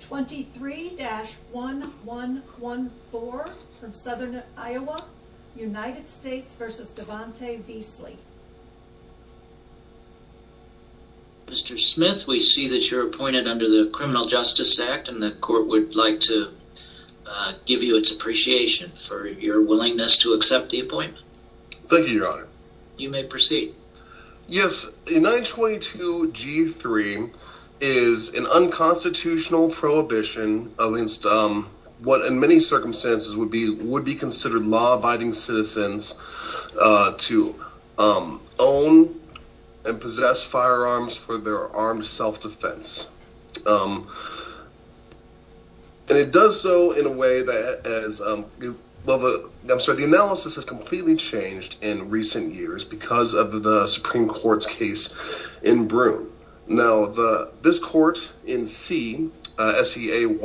23-1114 from Southern Iowa United States v. Devonte Veasley Mr. Smith, we see that you're appointed under the Criminal Justice Act and the court would like to give you its appreciation for your willingness to accept the appointment. Thank you, Your Honor. You may proceed. Yes, the 922 G3 is an unconstitutional prohibition against what in many circumstances would be considered law-abiding citizens to own and possess firearms for their armed self-defense. And it does so in a way that as, well, I'm sorry, the analysis has completely changed in recent years because of the Supreme Court's case in Broome. Now, this court in C, SEAY,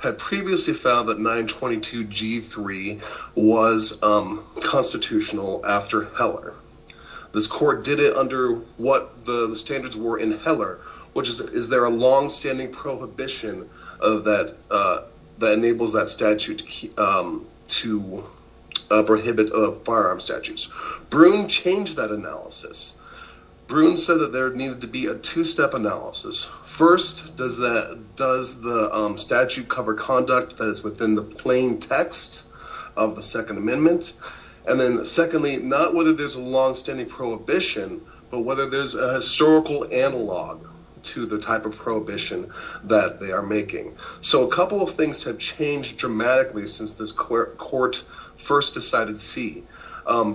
had previously found that 922 G3 was constitutional after Heller. This court did it under what the standards were in Heller, which is, is there a long-standing prohibition that enables that statute to prohibit firearm statutes? Broome changed that analysis. Broome said that there needed to be a two-step analysis. First, does the statute cover conduct that is within the plain text of the Second Amendment? And then secondly, not whether there's a long-standing prohibition, but whether there's a historical analog to the type of prohibition that they are making. So a couple of things have changed dramatically since this court first decided C.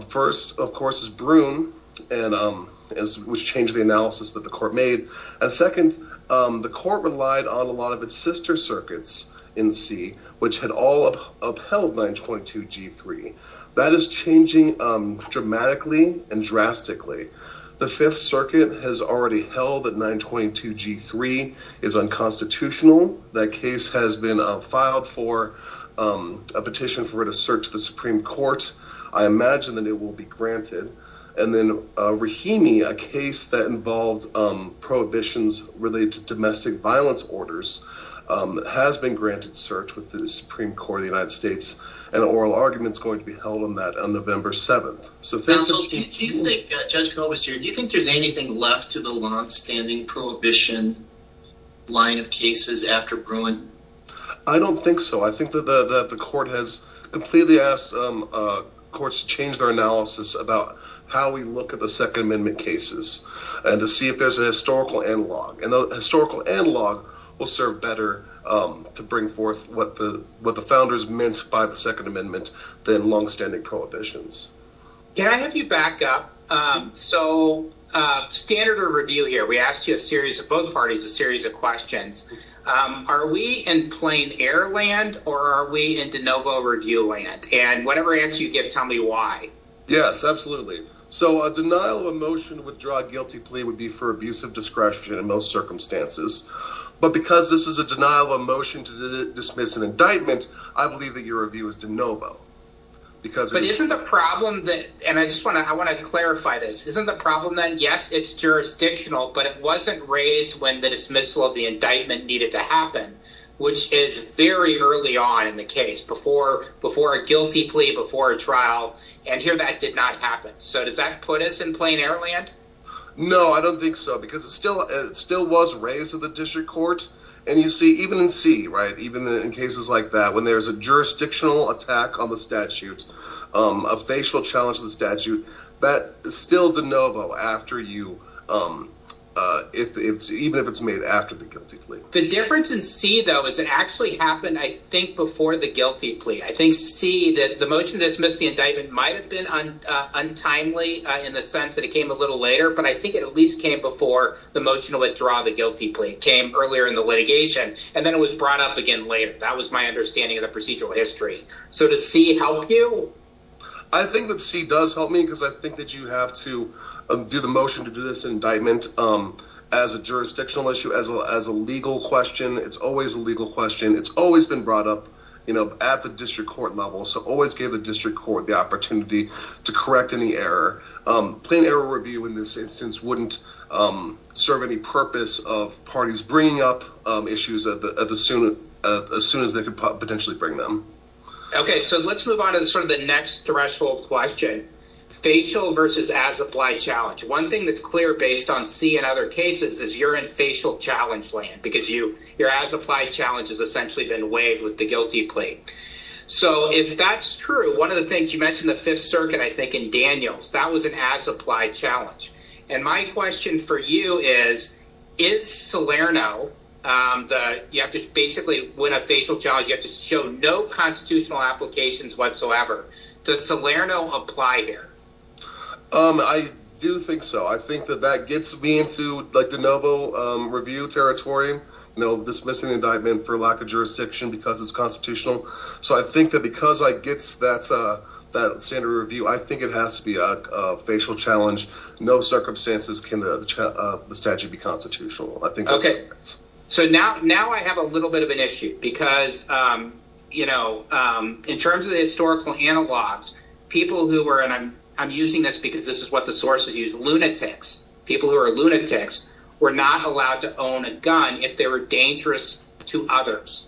First, of course, is Broome, which changed the analysis that the court made, and second, the court relied on a lot of its sister circuits in C, which had all upheld 922 G3. That is changing dramatically and drastically. The Fifth Circuit has already held that 922 G3 is unconstitutional. That case has been filed for a petition for it to search the Supreme Court. I imagine that it will be granted. And then Rahimi, a case that involved prohibitions related to domestic violence orders, has been granted search with the Supreme Court of the United States, and an oral argument is going to be held on that on November 7th. Counsel, do you think, Judge Kolbester, do you think there's anything left to the long-standing prohibition line of cases after Broome? I don't think so. I think that the court has completely asked courts to change their analysis about how we look at the Second Amendment cases, and to see if there's a historical analog. And the historical analog will serve better to bring forth what the founders meant by the Second Amendment than long-standing prohibitions. Can I have you back up? So standard of review here, we asked you a series of, both parties, a series of questions. Are we in plain air land, or are we in de novo review land? And whatever answer you give, tell me why. Yes, absolutely. So a denial of motion to withdraw a guilty plea would be for abuse of discretion in most circumstances. But because this is a denial of motion to dismiss an indictment, I believe that your review is de novo. But isn't the problem that, and I just want to clarify this, isn't the problem that yes, it's jurisdictional, but it wasn't raised when the dismissal of the indictment needed to happen, which is very early on in the case, before a guilty plea, before a trial. And here that did not happen. So does that put us in plain air land? No, I don't think so. Because it still was raised in the district court, and you see, even in C, even in cases like that, when there's a jurisdictional attack on the statute, a facial challenge to the statute, that is still de novo after you, even if it's made after the guilty plea. The difference in C, though, is it actually happened, I think, before the guilty plea. I think C, that the motion to dismiss the indictment might have been untimely in the sense that it came a little later, but I think it at least came before the motion to withdraw the guilty plea. It came earlier in the litigation, and then it was brought up again later. That was my understanding of the procedural history. So does C help you? I think that C does help me, because I think that you have to do the motion to do this indictment as a jurisdictional issue, as a legal question. It's always a legal question. It's always been brought up at the district court level. So always give the district court the opportunity to correct any error. Plain error review in this instance wouldn't serve any purpose of parties bringing up issues as soon as they could potentially bring them. Okay, so let's move on to sort of the next threshold question. Facial versus as-applied challenge. One thing that's clear based on C and other cases is you're in facial challenge land, because your as-applied challenge has essentially been waived with the guilty plea. So if that's true, one of the things, you mentioned the Fifth Circuit, I think, in Daniels. That was an as-applied challenge. And my question for you is, is Salerno, that you have to basically win a facial challenge, you have to show no constitutional applications whatsoever. Does Salerno apply here? I do think so. I think that that gets me into de novo review territory, you know, dismissing the indictment for lack of jurisdiction because it's constitutional. So I think that because I get that standard review, I think it has to be a facial challenge, no circumstances can the statute be constitutional. I think that's fair. So now I have a little bit of an issue because, you know, in terms of the historical analogs, people who were, and I'm using this because this is what the sources use, lunatics, people who are lunatics were not allowed to own a gun if they were dangerous to others.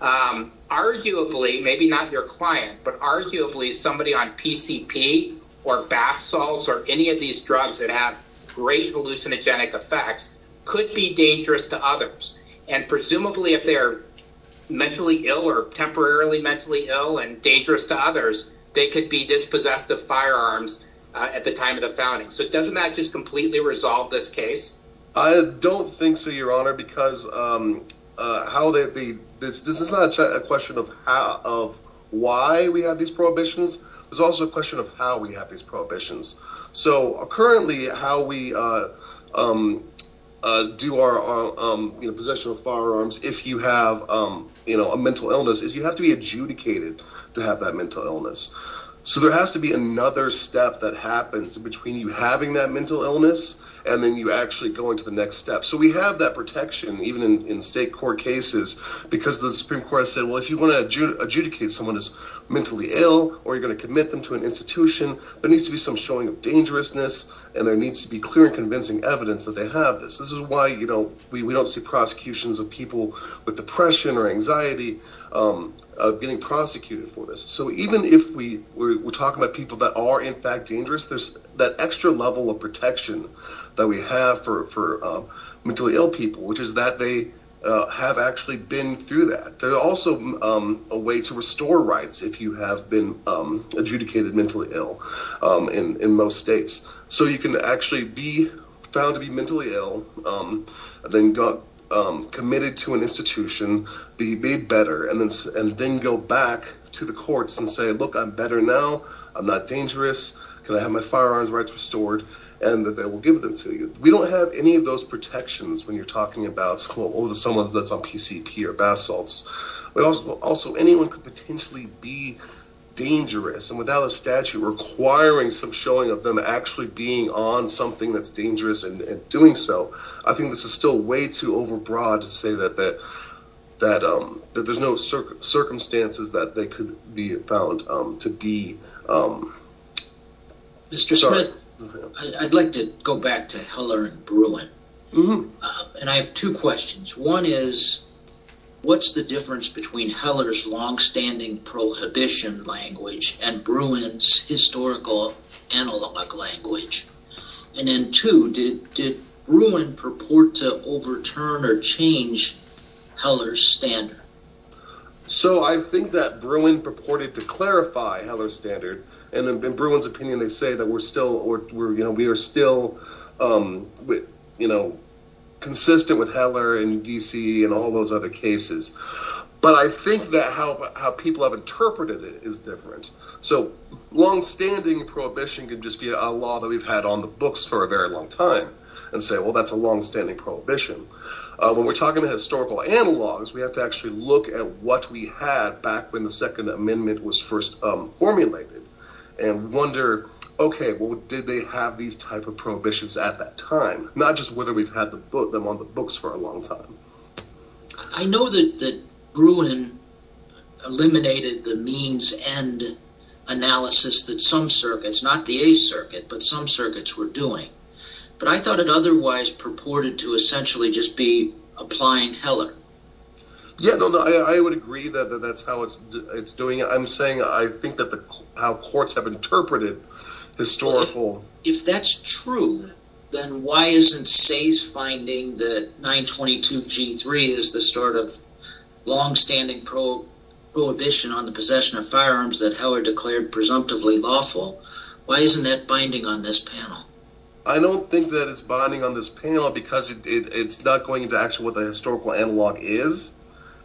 Arguably, maybe not your client, but arguably somebody on PCP or bath salts or any of these drugs that have great hallucinogenic effects could be dangerous to others. And presumably if they're mentally ill or temporarily mentally ill and dangerous to others, they could be dispossessed of firearms at the time of the founding. So doesn't that just completely resolve this case? I don't think so, your honor, because how they, this is not a question of how, of why we have these prohibitions. There's also a question of how we have these prohibitions. So currently how we do our possession of firearms if you have a mental illness is you have to be adjudicated to have that mental illness. So there has to be another step that happens between you having that mental illness and then you actually go into the next step. So we have that protection even in state court cases because the Supreme Court said, well, if you want to adjudicate someone who's mentally ill or you're going to commit them to an institution, there needs to be some showing of dangerousness and there needs to be clear and convincing evidence that they have this. This is why, you know, we don't see prosecutions of people with depression or anxiety getting prosecuted for this. So even if we were talking about people that are in fact dangerous, there's that extra level of protection that we have for mentally ill people, which is that they have actually been through that. There's also a way to restore rights if you have been adjudicated mentally ill in most states. So you can actually be found to be mentally ill and then got committed to an institution, be better and then go back to the courts and say, look, I'm better now. I'm not dangerous. Can I have my firearms rights restored and that they will give them to you? We don't have any of those protections when you're talking about someone that's on PCP or but also anyone could potentially be dangerous and without a statute requiring some showing of them actually being on something that's dangerous and doing so. I think this is still way too overbroad to say that there's no circumstances that they could be found to be. Mr. Smith, I'd like to go back to Heller and Bruin and I have two questions. One is, what's the difference between Heller's longstanding prohibition language and Bruin's historical analog language? And then two, did Bruin purport to overturn or change Heller's standard? So I think that Bruin purported to clarify Heller's standard and in Bruin's opinion, they don't. I mean, they're the same standard in all of those other cases. But I think that how people have interpreted it is different. So long-standing prohibition can just be a law that we've had on the books for a very long time and say, well, that's a long-standing prohibition. When we're talking about historical analogs, we have to actually look at what we had back when the Second Amendment was first formulated and wonder, OK, well, did they have these type of prohibitions at that time, not just whether we've had them on the books for a long time. I know that that Gruen eliminated the means end analysis that some circuits, not the A circuit, but some circuits were doing. But I thought it otherwise purported to essentially just be applying Heller. Yeah, I would agree that that's how it's doing it. I'm saying I think that how courts have interpreted historical. If that's true, then why isn't Say's finding that 922 G3 is the start of longstanding prohibition on the possession of firearms that Heller declared presumptively lawful? Why isn't that binding on this panel? I don't think that it's binding on this panel because it's not going into action with a historical analog is.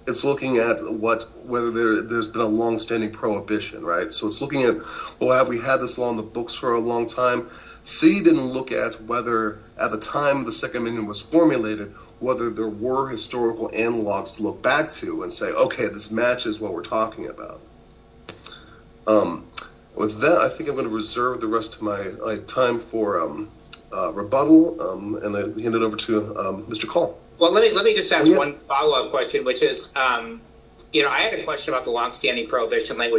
It's looking at what whether there's been a longstanding prohibition. So it's looking at, well, have we had this law on the books for a long time? See, didn't look at whether at the time the Second Amendment was formulated, whether there were historical analogs to look back to and say, OK, this matches what we're talking about. With that, I think I'm going to reserve the rest of my time for rebuttal and I hand it over to Mr. Call. Well, let me let me just ask one follow up question, which is, you know, I had a little bit of a hard time with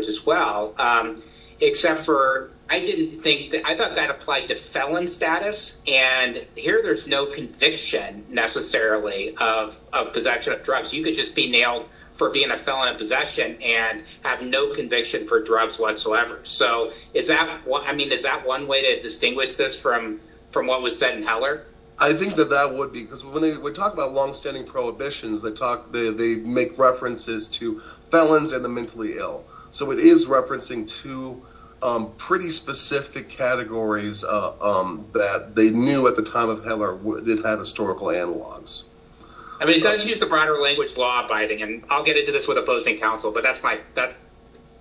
that as well, except for I didn't think that I thought that applied to felon status. And here there's no conviction necessarily of possession of drugs. You could just be nailed for being a felon of possession and have no conviction for drugs whatsoever. So is that what I mean, is that one way to distinguish this from from what was said in Heller? I think that that would be because when we talk about longstanding prohibitions, they talk, they make references to felons and the mentally ill. So it is referencing two pretty specific categories that they knew at the time of Heller did have historical analogs. I mean, it does use the broader language law abiding, and I'll get into this with opposing counsel, but that's my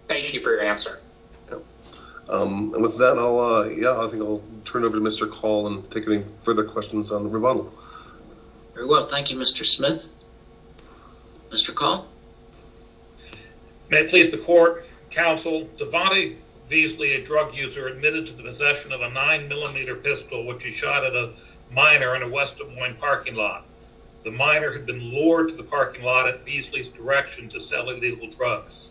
thank you for your answer. And with that, I'll yeah, I think I'll turn over to Mr. Call and take any further questions on the rebuttal. Very well, thank you, Mr. Smith. Mr. Call. May it please the court, counsel. Devante Beasley, a drug user, admitted to the possession of a nine millimeter pistol, which he shot at a minor in a West Des Moines parking lot. The minor had been lured to the parking lot at Beasley's direction to sell illegal drugs.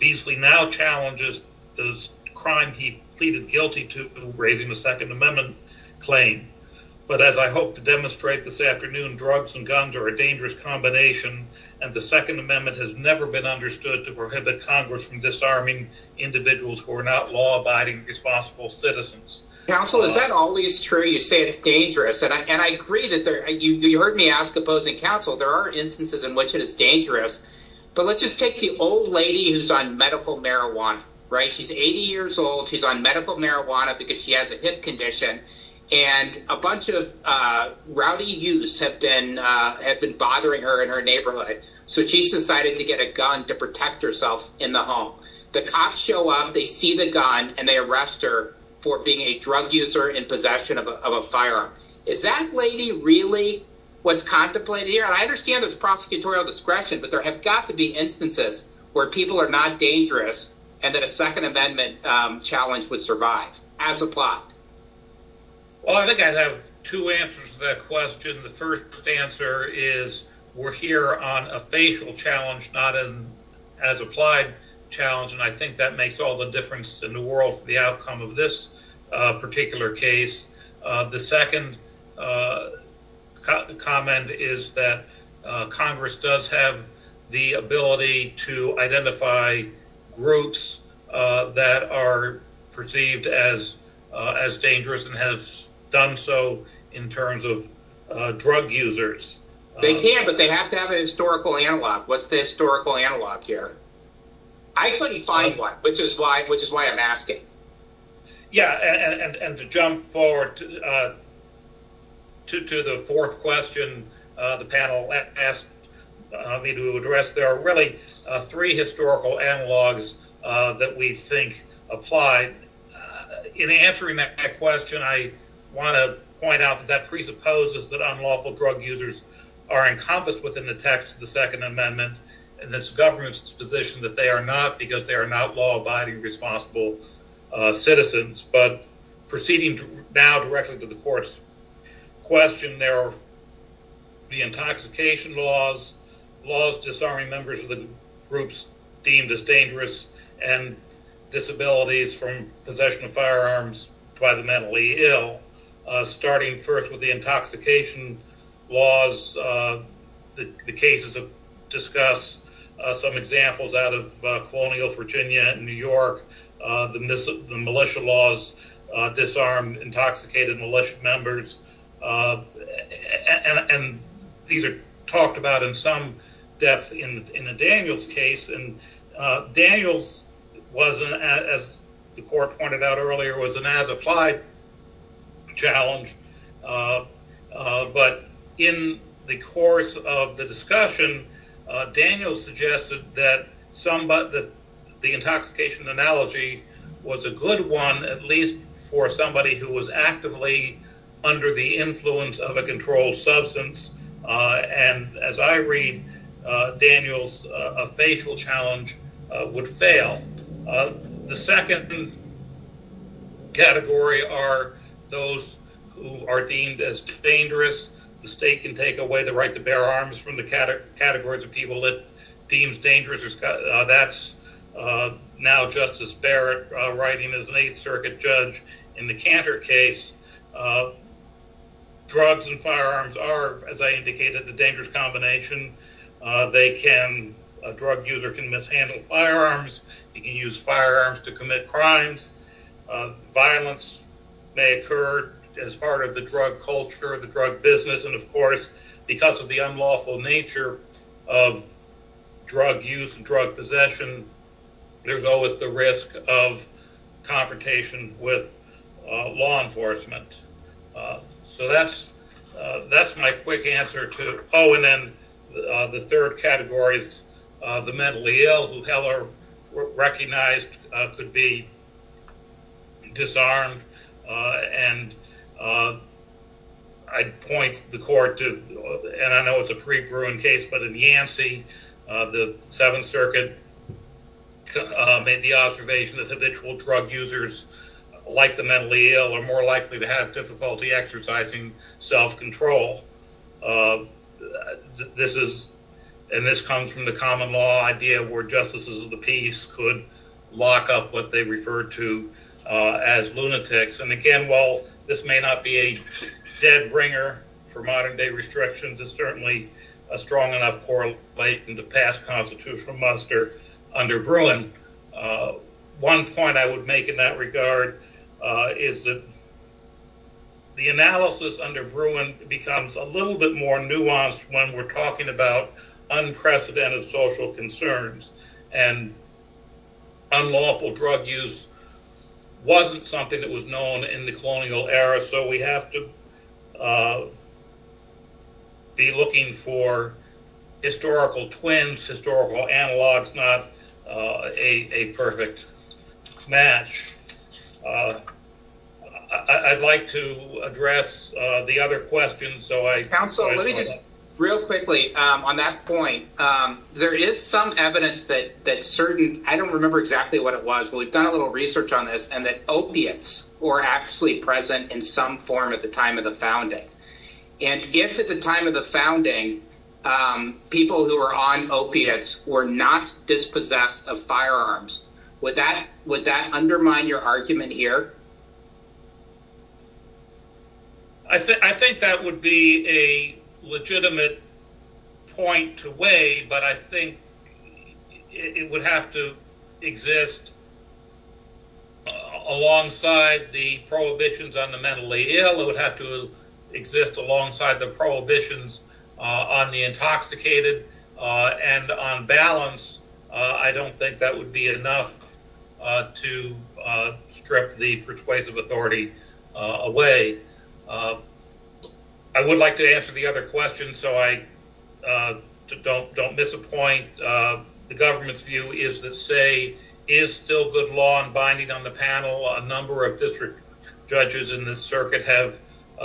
Beasley now challenges the crime he pleaded guilty to raising the Second Amendment claim. But as I hope to demonstrate this afternoon, drugs and guns are a dangerous combination. And the Second Amendment has never been understood to prohibit Congress from disarming individuals who are not law abiding, responsible citizens. Counsel, is that always true? You say it's dangerous. And I agree that you heard me ask opposing counsel. There are instances in which it is dangerous. But let's just take the old lady who's on medical marijuana. Right. She's 80 years old. She's on medical marijuana because she has a hip condition. And a bunch of rowdy youths have been have been bothering her in her neighborhood. So she's decided to get a gun to protect herself in the home. The cops show up, they see the gun and they arrest her for being a drug user in possession of a firearm. Is that lady really what's contemplated here? And I understand there's prosecutorial discretion, but there have got to be instances where people are not dangerous and that a Second Amendment challenge would survive as a plot. Well, I think I have two answers to that question. The first answer is we're here on a facial challenge, not an as applied challenge. And I think that makes all the difference in the world for the outcome of this particular case. The second comment is that Congress does have the ability to identify groups that are perceived as as done so in terms of drug users. They can, but they have to have a historical analog. What's the historical analog here? I couldn't find one, which is why which is why I'm asking. Yeah, and to jump forward to the fourth question, the panel asked me to address there are really three historical analogs that we think apply in answering that question. I want to point out that presupposes that unlawful drug users are encompassed within the text of the Second Amendment and this government's position that they are not because they are not law abiding, responsible citizens. But proceeding now directly to the court's question, there are the intoxication laws, laws disarming members of the groups deemed as dangerous and disabilities from possession of firearms by the mentally ill, starting first with the intoxication laws. The cases have discussed some examples out of colonial Virginia and New York, the militia laws, disarmed, and in the Daniels case, and Daniels wasn't, as the court pointed out earlier, was an as applied challenge. But in the course of the discussion, Daniels suggested that the intoxication analogy was a good one, at least for somebody who was actively under the influence of a controlled substance. And as I read, Daniels, a facial challenge would fail. The second category are those who are deemed as dangerous. The state can take away the right to bear arms from the categories of people that deems dangerous. That's now Justice Barrett writing as an Eighth Circuit judge. In the Cantor case, drugs and firearms are, as I indicated, the dangerous combination. They can, a drug user can mishandle firearms. You can use firearms to commit crimes. Violence may occur as part of the drug culture, the drug business. And of course, because of the unlawful nature of drug use and drug possession, there's always the risk of confrontation with law enforcement. So that's my quick answer to, oh, and then the third category is the mentally ill who Heller recognized could be disarmed. And I'd point the court to, and I know it's a pre-Bruin case, but in Yancey, the Seventh Circuit made the observation that habitual drug users like the mentally ill are more likely to have difficulty exercising self-control. This is, and this comes from the common law idea where justices of the peace could lock up what they referred to as lunatics. And again, while this may not be a dead ringer for modern day restrictions, it's certainly a strong enough correlate in the past constitutional muster under Bruin. One point I would make in that regard is that the analysis under Bruin becomes a little bit more nuanced when we're talking about unprecedented social concerns and unlawful drug use wasn't something that was known in the colonial era. So we have to be looking for historical twins, historical analogs, not a perfect match. I'd like to address the other questions. So I counseled real quickly on that point. There is some evidence that that certain, I don't remember exactly what it was, but we've done a little research on this and that opiates were actually present in some form at the time of the founding. And if at the time of the founding, people who were on opiates were not dispossessed of firearms, would that undermine your argument here? I think that would be a legitimate point to weigh, but I think it would have to exist alongside the prohibitions on the mentally ill. It would have to exist alongside the prohibitions on the intoxicated and on balance, I don't think that would be enough to strip the district ways of authority away. I would like to answer the other question, so I don't don't misappoint the government's view is that say, is still good law and binding on the panel? A number of district judges in this circuit have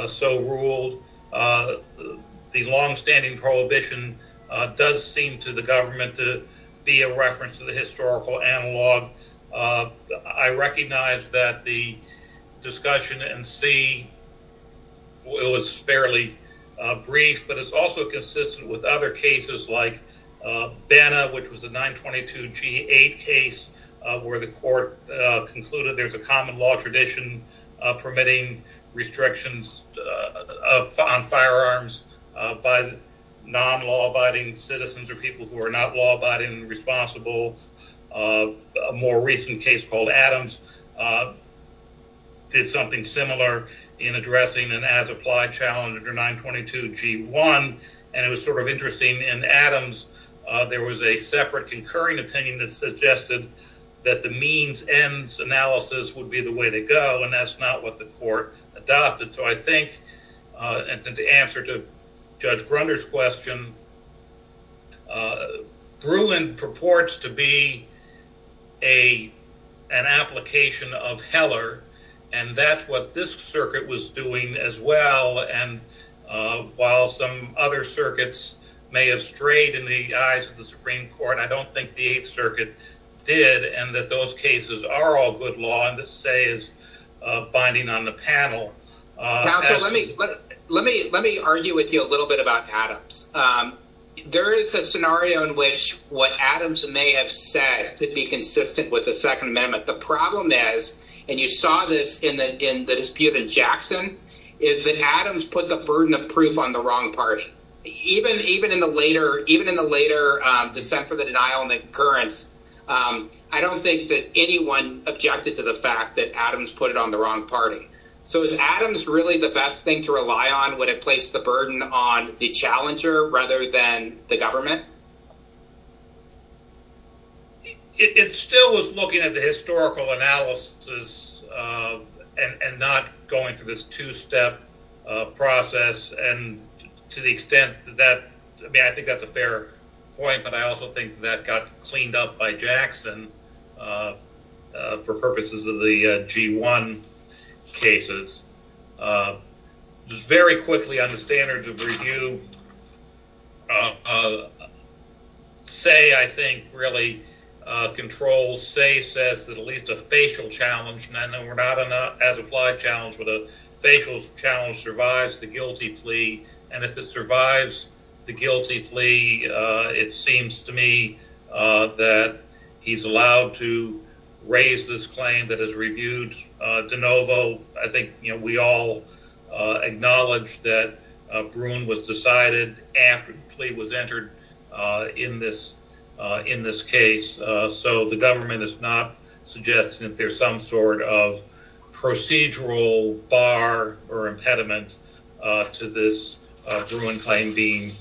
so ruled. The longstanding prohibition does seem to the government to be a reference to the historical analog. I recognize that the discussion and see. Well, it was fairly brief, but it's also consistent with other cases like Banna, which was a 922 G8 case where the court concluded there's a common law tradition permitting restrictions on firearms by non law abiding citizens or people who are not law abiding and responsible. A more recent case called Adams did something similar in addressing an as applied challenge or 922 G1, and it was sort of interesting in Adams. There was a separate concurring opinion that suggested that the means ends analysis would be the way to go, and that's not what the court adopted. So I think the answer to Judge Gruner's question. Bruin purports to be a an application of Heller, and that's what this circuit was doing as well. And while some other circuits may have strayed in the eyes of the Supreme Court, I don't think the 8th Circuit did. And that those cases are all good law. And the say is binding on the panel. Now, let me let me let me argue with you a little bit about Adams. There is a scenario in which what Adams may have said to be consistent with the Second Amendment. The problem is, and you saw this in the in the dispute in Jackson, is that Adams put the burden of proof on the wrong party, even even in the later, even in the later dissent for the denial of the occurrence. I don't think that anyone objected to the fact that Adams put it on the wrong party. So is Adams really the best thing to rely on? Would it place the burden on the challenger rather than the government? It still was looking at the historical analysis and not going through this two step process. And to the extent that I think that's a fair point. But I also think that got cleaned up by Jackson for purposes of the G1 cases. Just very quickly on the standards of review. Say, I think, really controls say says that at least a facial challenge. We're not as applied challenge with a facial challenge survives the guilty plea. And if it survives the guilty plea, it seems to me that he's allowed to raise this claim that has reviewed de novo. I think we all acknowledge that Bruin was decided after the plea was entered in this in this case. So the government is not suggesting that there's some sort of procedural bar or impediment to this Bruin claim being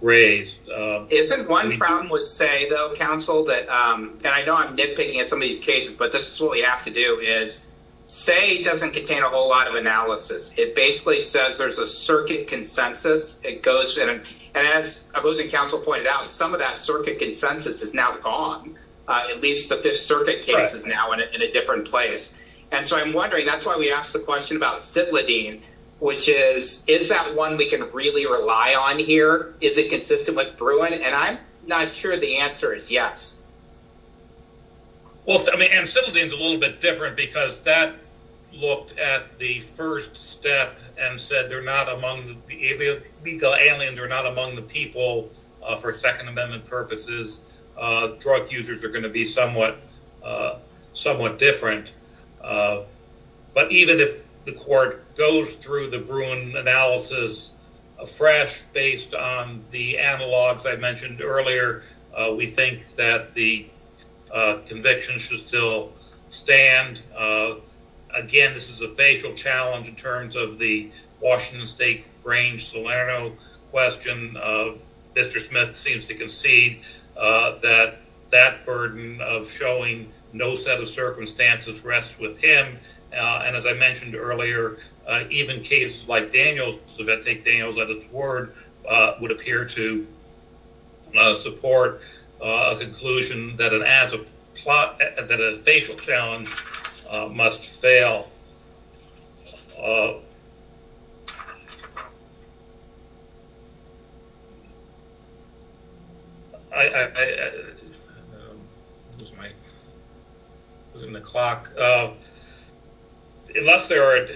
raised. Isn't one problem with say, though, counsel that and I know I'm nitpicking at some of these cases, but this is what we have to do is say doesn't contain a whole lot of analysis. It basically says there's a circuit consensus. It goes. And as opposing counsel pointed out, some of that circuit consensus is now gone. At least the Fifth Circuit case is now in a different place. And so I'm wondering, that's why we asked the question about Citlodine, which is, is that one we can really rely on here? Is it consistent with Bruin? And I'm not sure the answer is yes. Well, I mean, and Citlodine is a little bit different because that looked at the first step and said they're not among the illegal aliens or not among the people for Second Amendment purposes. Drug users are going to be somewhat different. But even if the court goes through the Bruin analysis fresh based on the analogs I mentioned earlier, we think that the conviction should still stand. Again, this is a facial challenge in terms of the Washington State Grange-Solano question. Mr. Smith seems to concede that that burden of showing no set of circumstances rests with him. And as I mentioned earlier, even cases like Daniels, if I take Daniels at its word, would appear to support a conclusion that a facial challenge must fail. Unless there are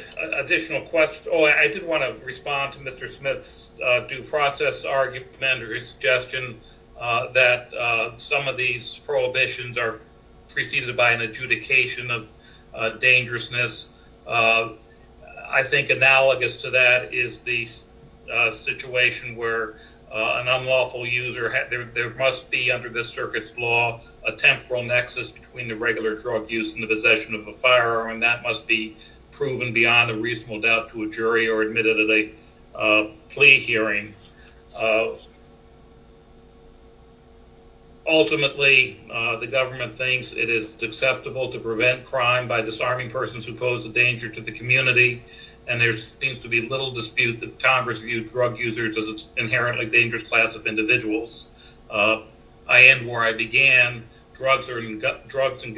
additional questions... I did want to respond to Mr. Smith's due process argument or his suggestion that some of these prohibitions are preceded by an adjudication of dangerousness. I think analogous to that is the situation where an unlawful user, there must be under this circuit's law, a temporal nexus between the regular drug use and the possession of a firearm, and that must be proven beyond a reasonable doubt to a jury or admitted at a plea hearing. Ultimately, the government thinks it is acceptable to prevent crime by disarming persons who pose a danger to the community, and there seems to be little dispute that Congress viewed drug users as an inherently dangerous class of individuals. I end where I began. Drugs and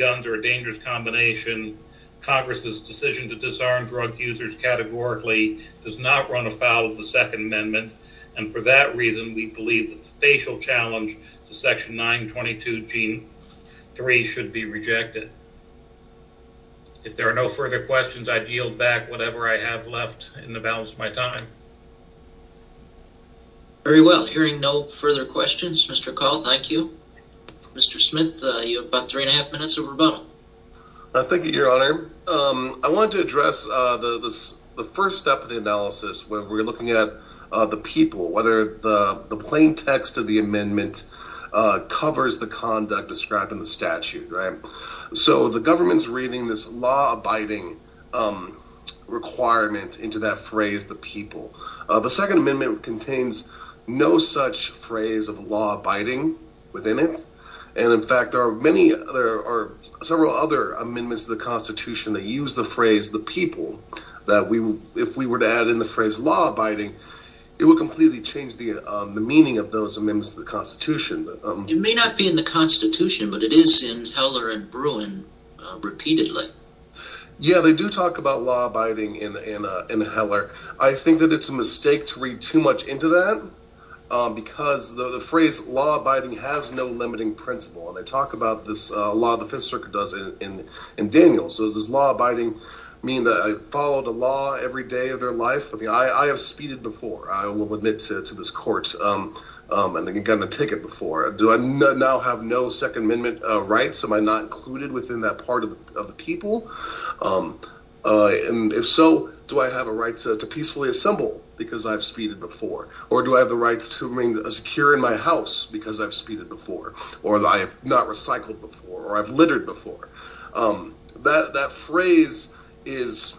guns are a dangerous combination. Congress's decision to disarm drug users categorically does not run afoul of the Second Amendment, and for that reason, we believe that the facial challenge to Section 922G3 should be rejected. If there are no further questions, I yield back whatever I have left in the balance of my time. Very well. Hearing no further questions, Mr. Call, thank you. Mr. Smith, you have about three and a half minutes of rebuttal. Thank you, Your Honor. I want to address the first step of the analysis when we're looking at the people, whether the plain text of the amendment covers the conduct described in the statute, right? So, the government's reading this law-abiding requirement into that phrase, the people. The Second Amendment contains no such phrase of law-abiding within it. And, in fact, there are several other amendments to the Constitution that use the phrase, the people, that if we were to add in the phrase law-abiding, it would completely change the meaning of those amendments to the Constitution. It may not be in the Constitution, but it is in the law-abiding in Heller. I think that it's a mistake to read too much into that, because the phrase law-abiding has no limiting principle. And they talk about this law the Fifth Circuit does in Daniel. So, does law-abiding mean that I follow the law every day of their life? I have speeded before, I will admit to this court, and I've gotten a ticket before. Do I now have no rights? Am I not included within that part of the people? And if so, do I have a right to peacefully assemble because I've speeded before? Or do I have the rights to remain secure in my house because I've speeded before? Or I have not recycled before? Or I've littered before? That phrase is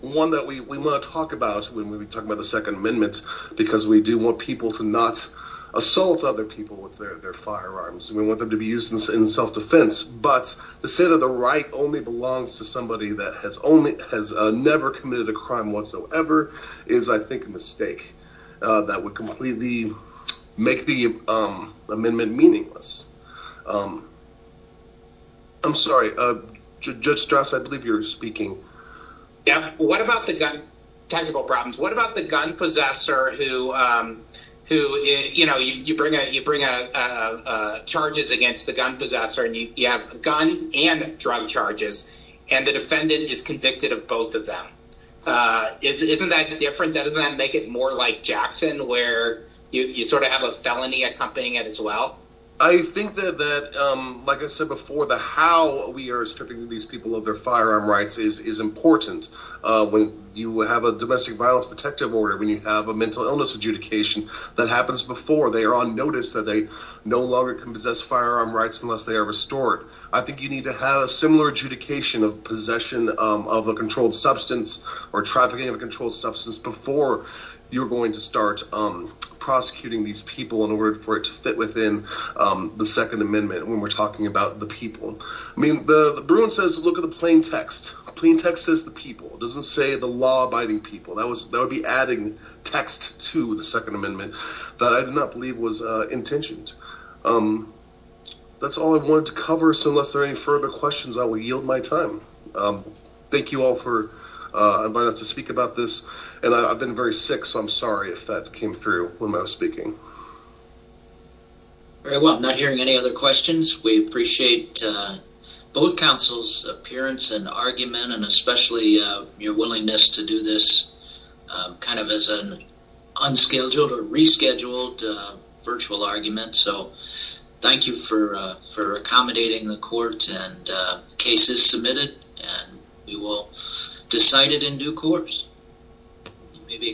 one that we want to talk about when we talk about the Second Amendment, because we do want people to not assault other people with their firearms. We want them to be used in self-defense. But to say that the right only belongs to somebody that has never committed a crime whatsoever is, I think, a mistake. That would completely make the amendment meaningless. I'm sorry, Judge Strauss, I believe you're speaking. Yeah. What about the gun—technical problems—what about the gun possessor who, you know, you bring charges against the gun possessor, and you have gun and drug charges, and the defendant is convicted of both of them. Isn't that different? Doesn't that make it more like Jackson, where you sort of have a felony accompanying it as well? I think that, like I said before, how we are stripping these people of their firearm rights is important. When you have a domestic violence protective order, when you have a mental illness adjudication that happens before, they are on notice that they no longer can possess firearm rights unless they are restored. I think you need to have a similar adjudication of possession of a controlled substance or trafficking of a controlled substance before you're going to start prosecuting these people in order for it to fit within the Second Amendment when we're talking about the people. I mean, Bruin says look at the plain text. The plain text says the people. It doesn't say the law-abiding people. That would be adding text to the Second Amendment that I did not believe was intentioned. That's all I wanted to cover, so unless there are any further questions, I will yield my time. Thank you all for inviting us to speak about this, and I've been very sick, so I'm sorry if that came through when I was speaking. All right, well, I'm not hearing any other questions. We appreciate both counsels' appearance and argument, and especially your willingness to do this kind of as an unscheduled or rescheduled virtual argument, so thank you for accommodating the court and cases submitted, and we will decide it in due course.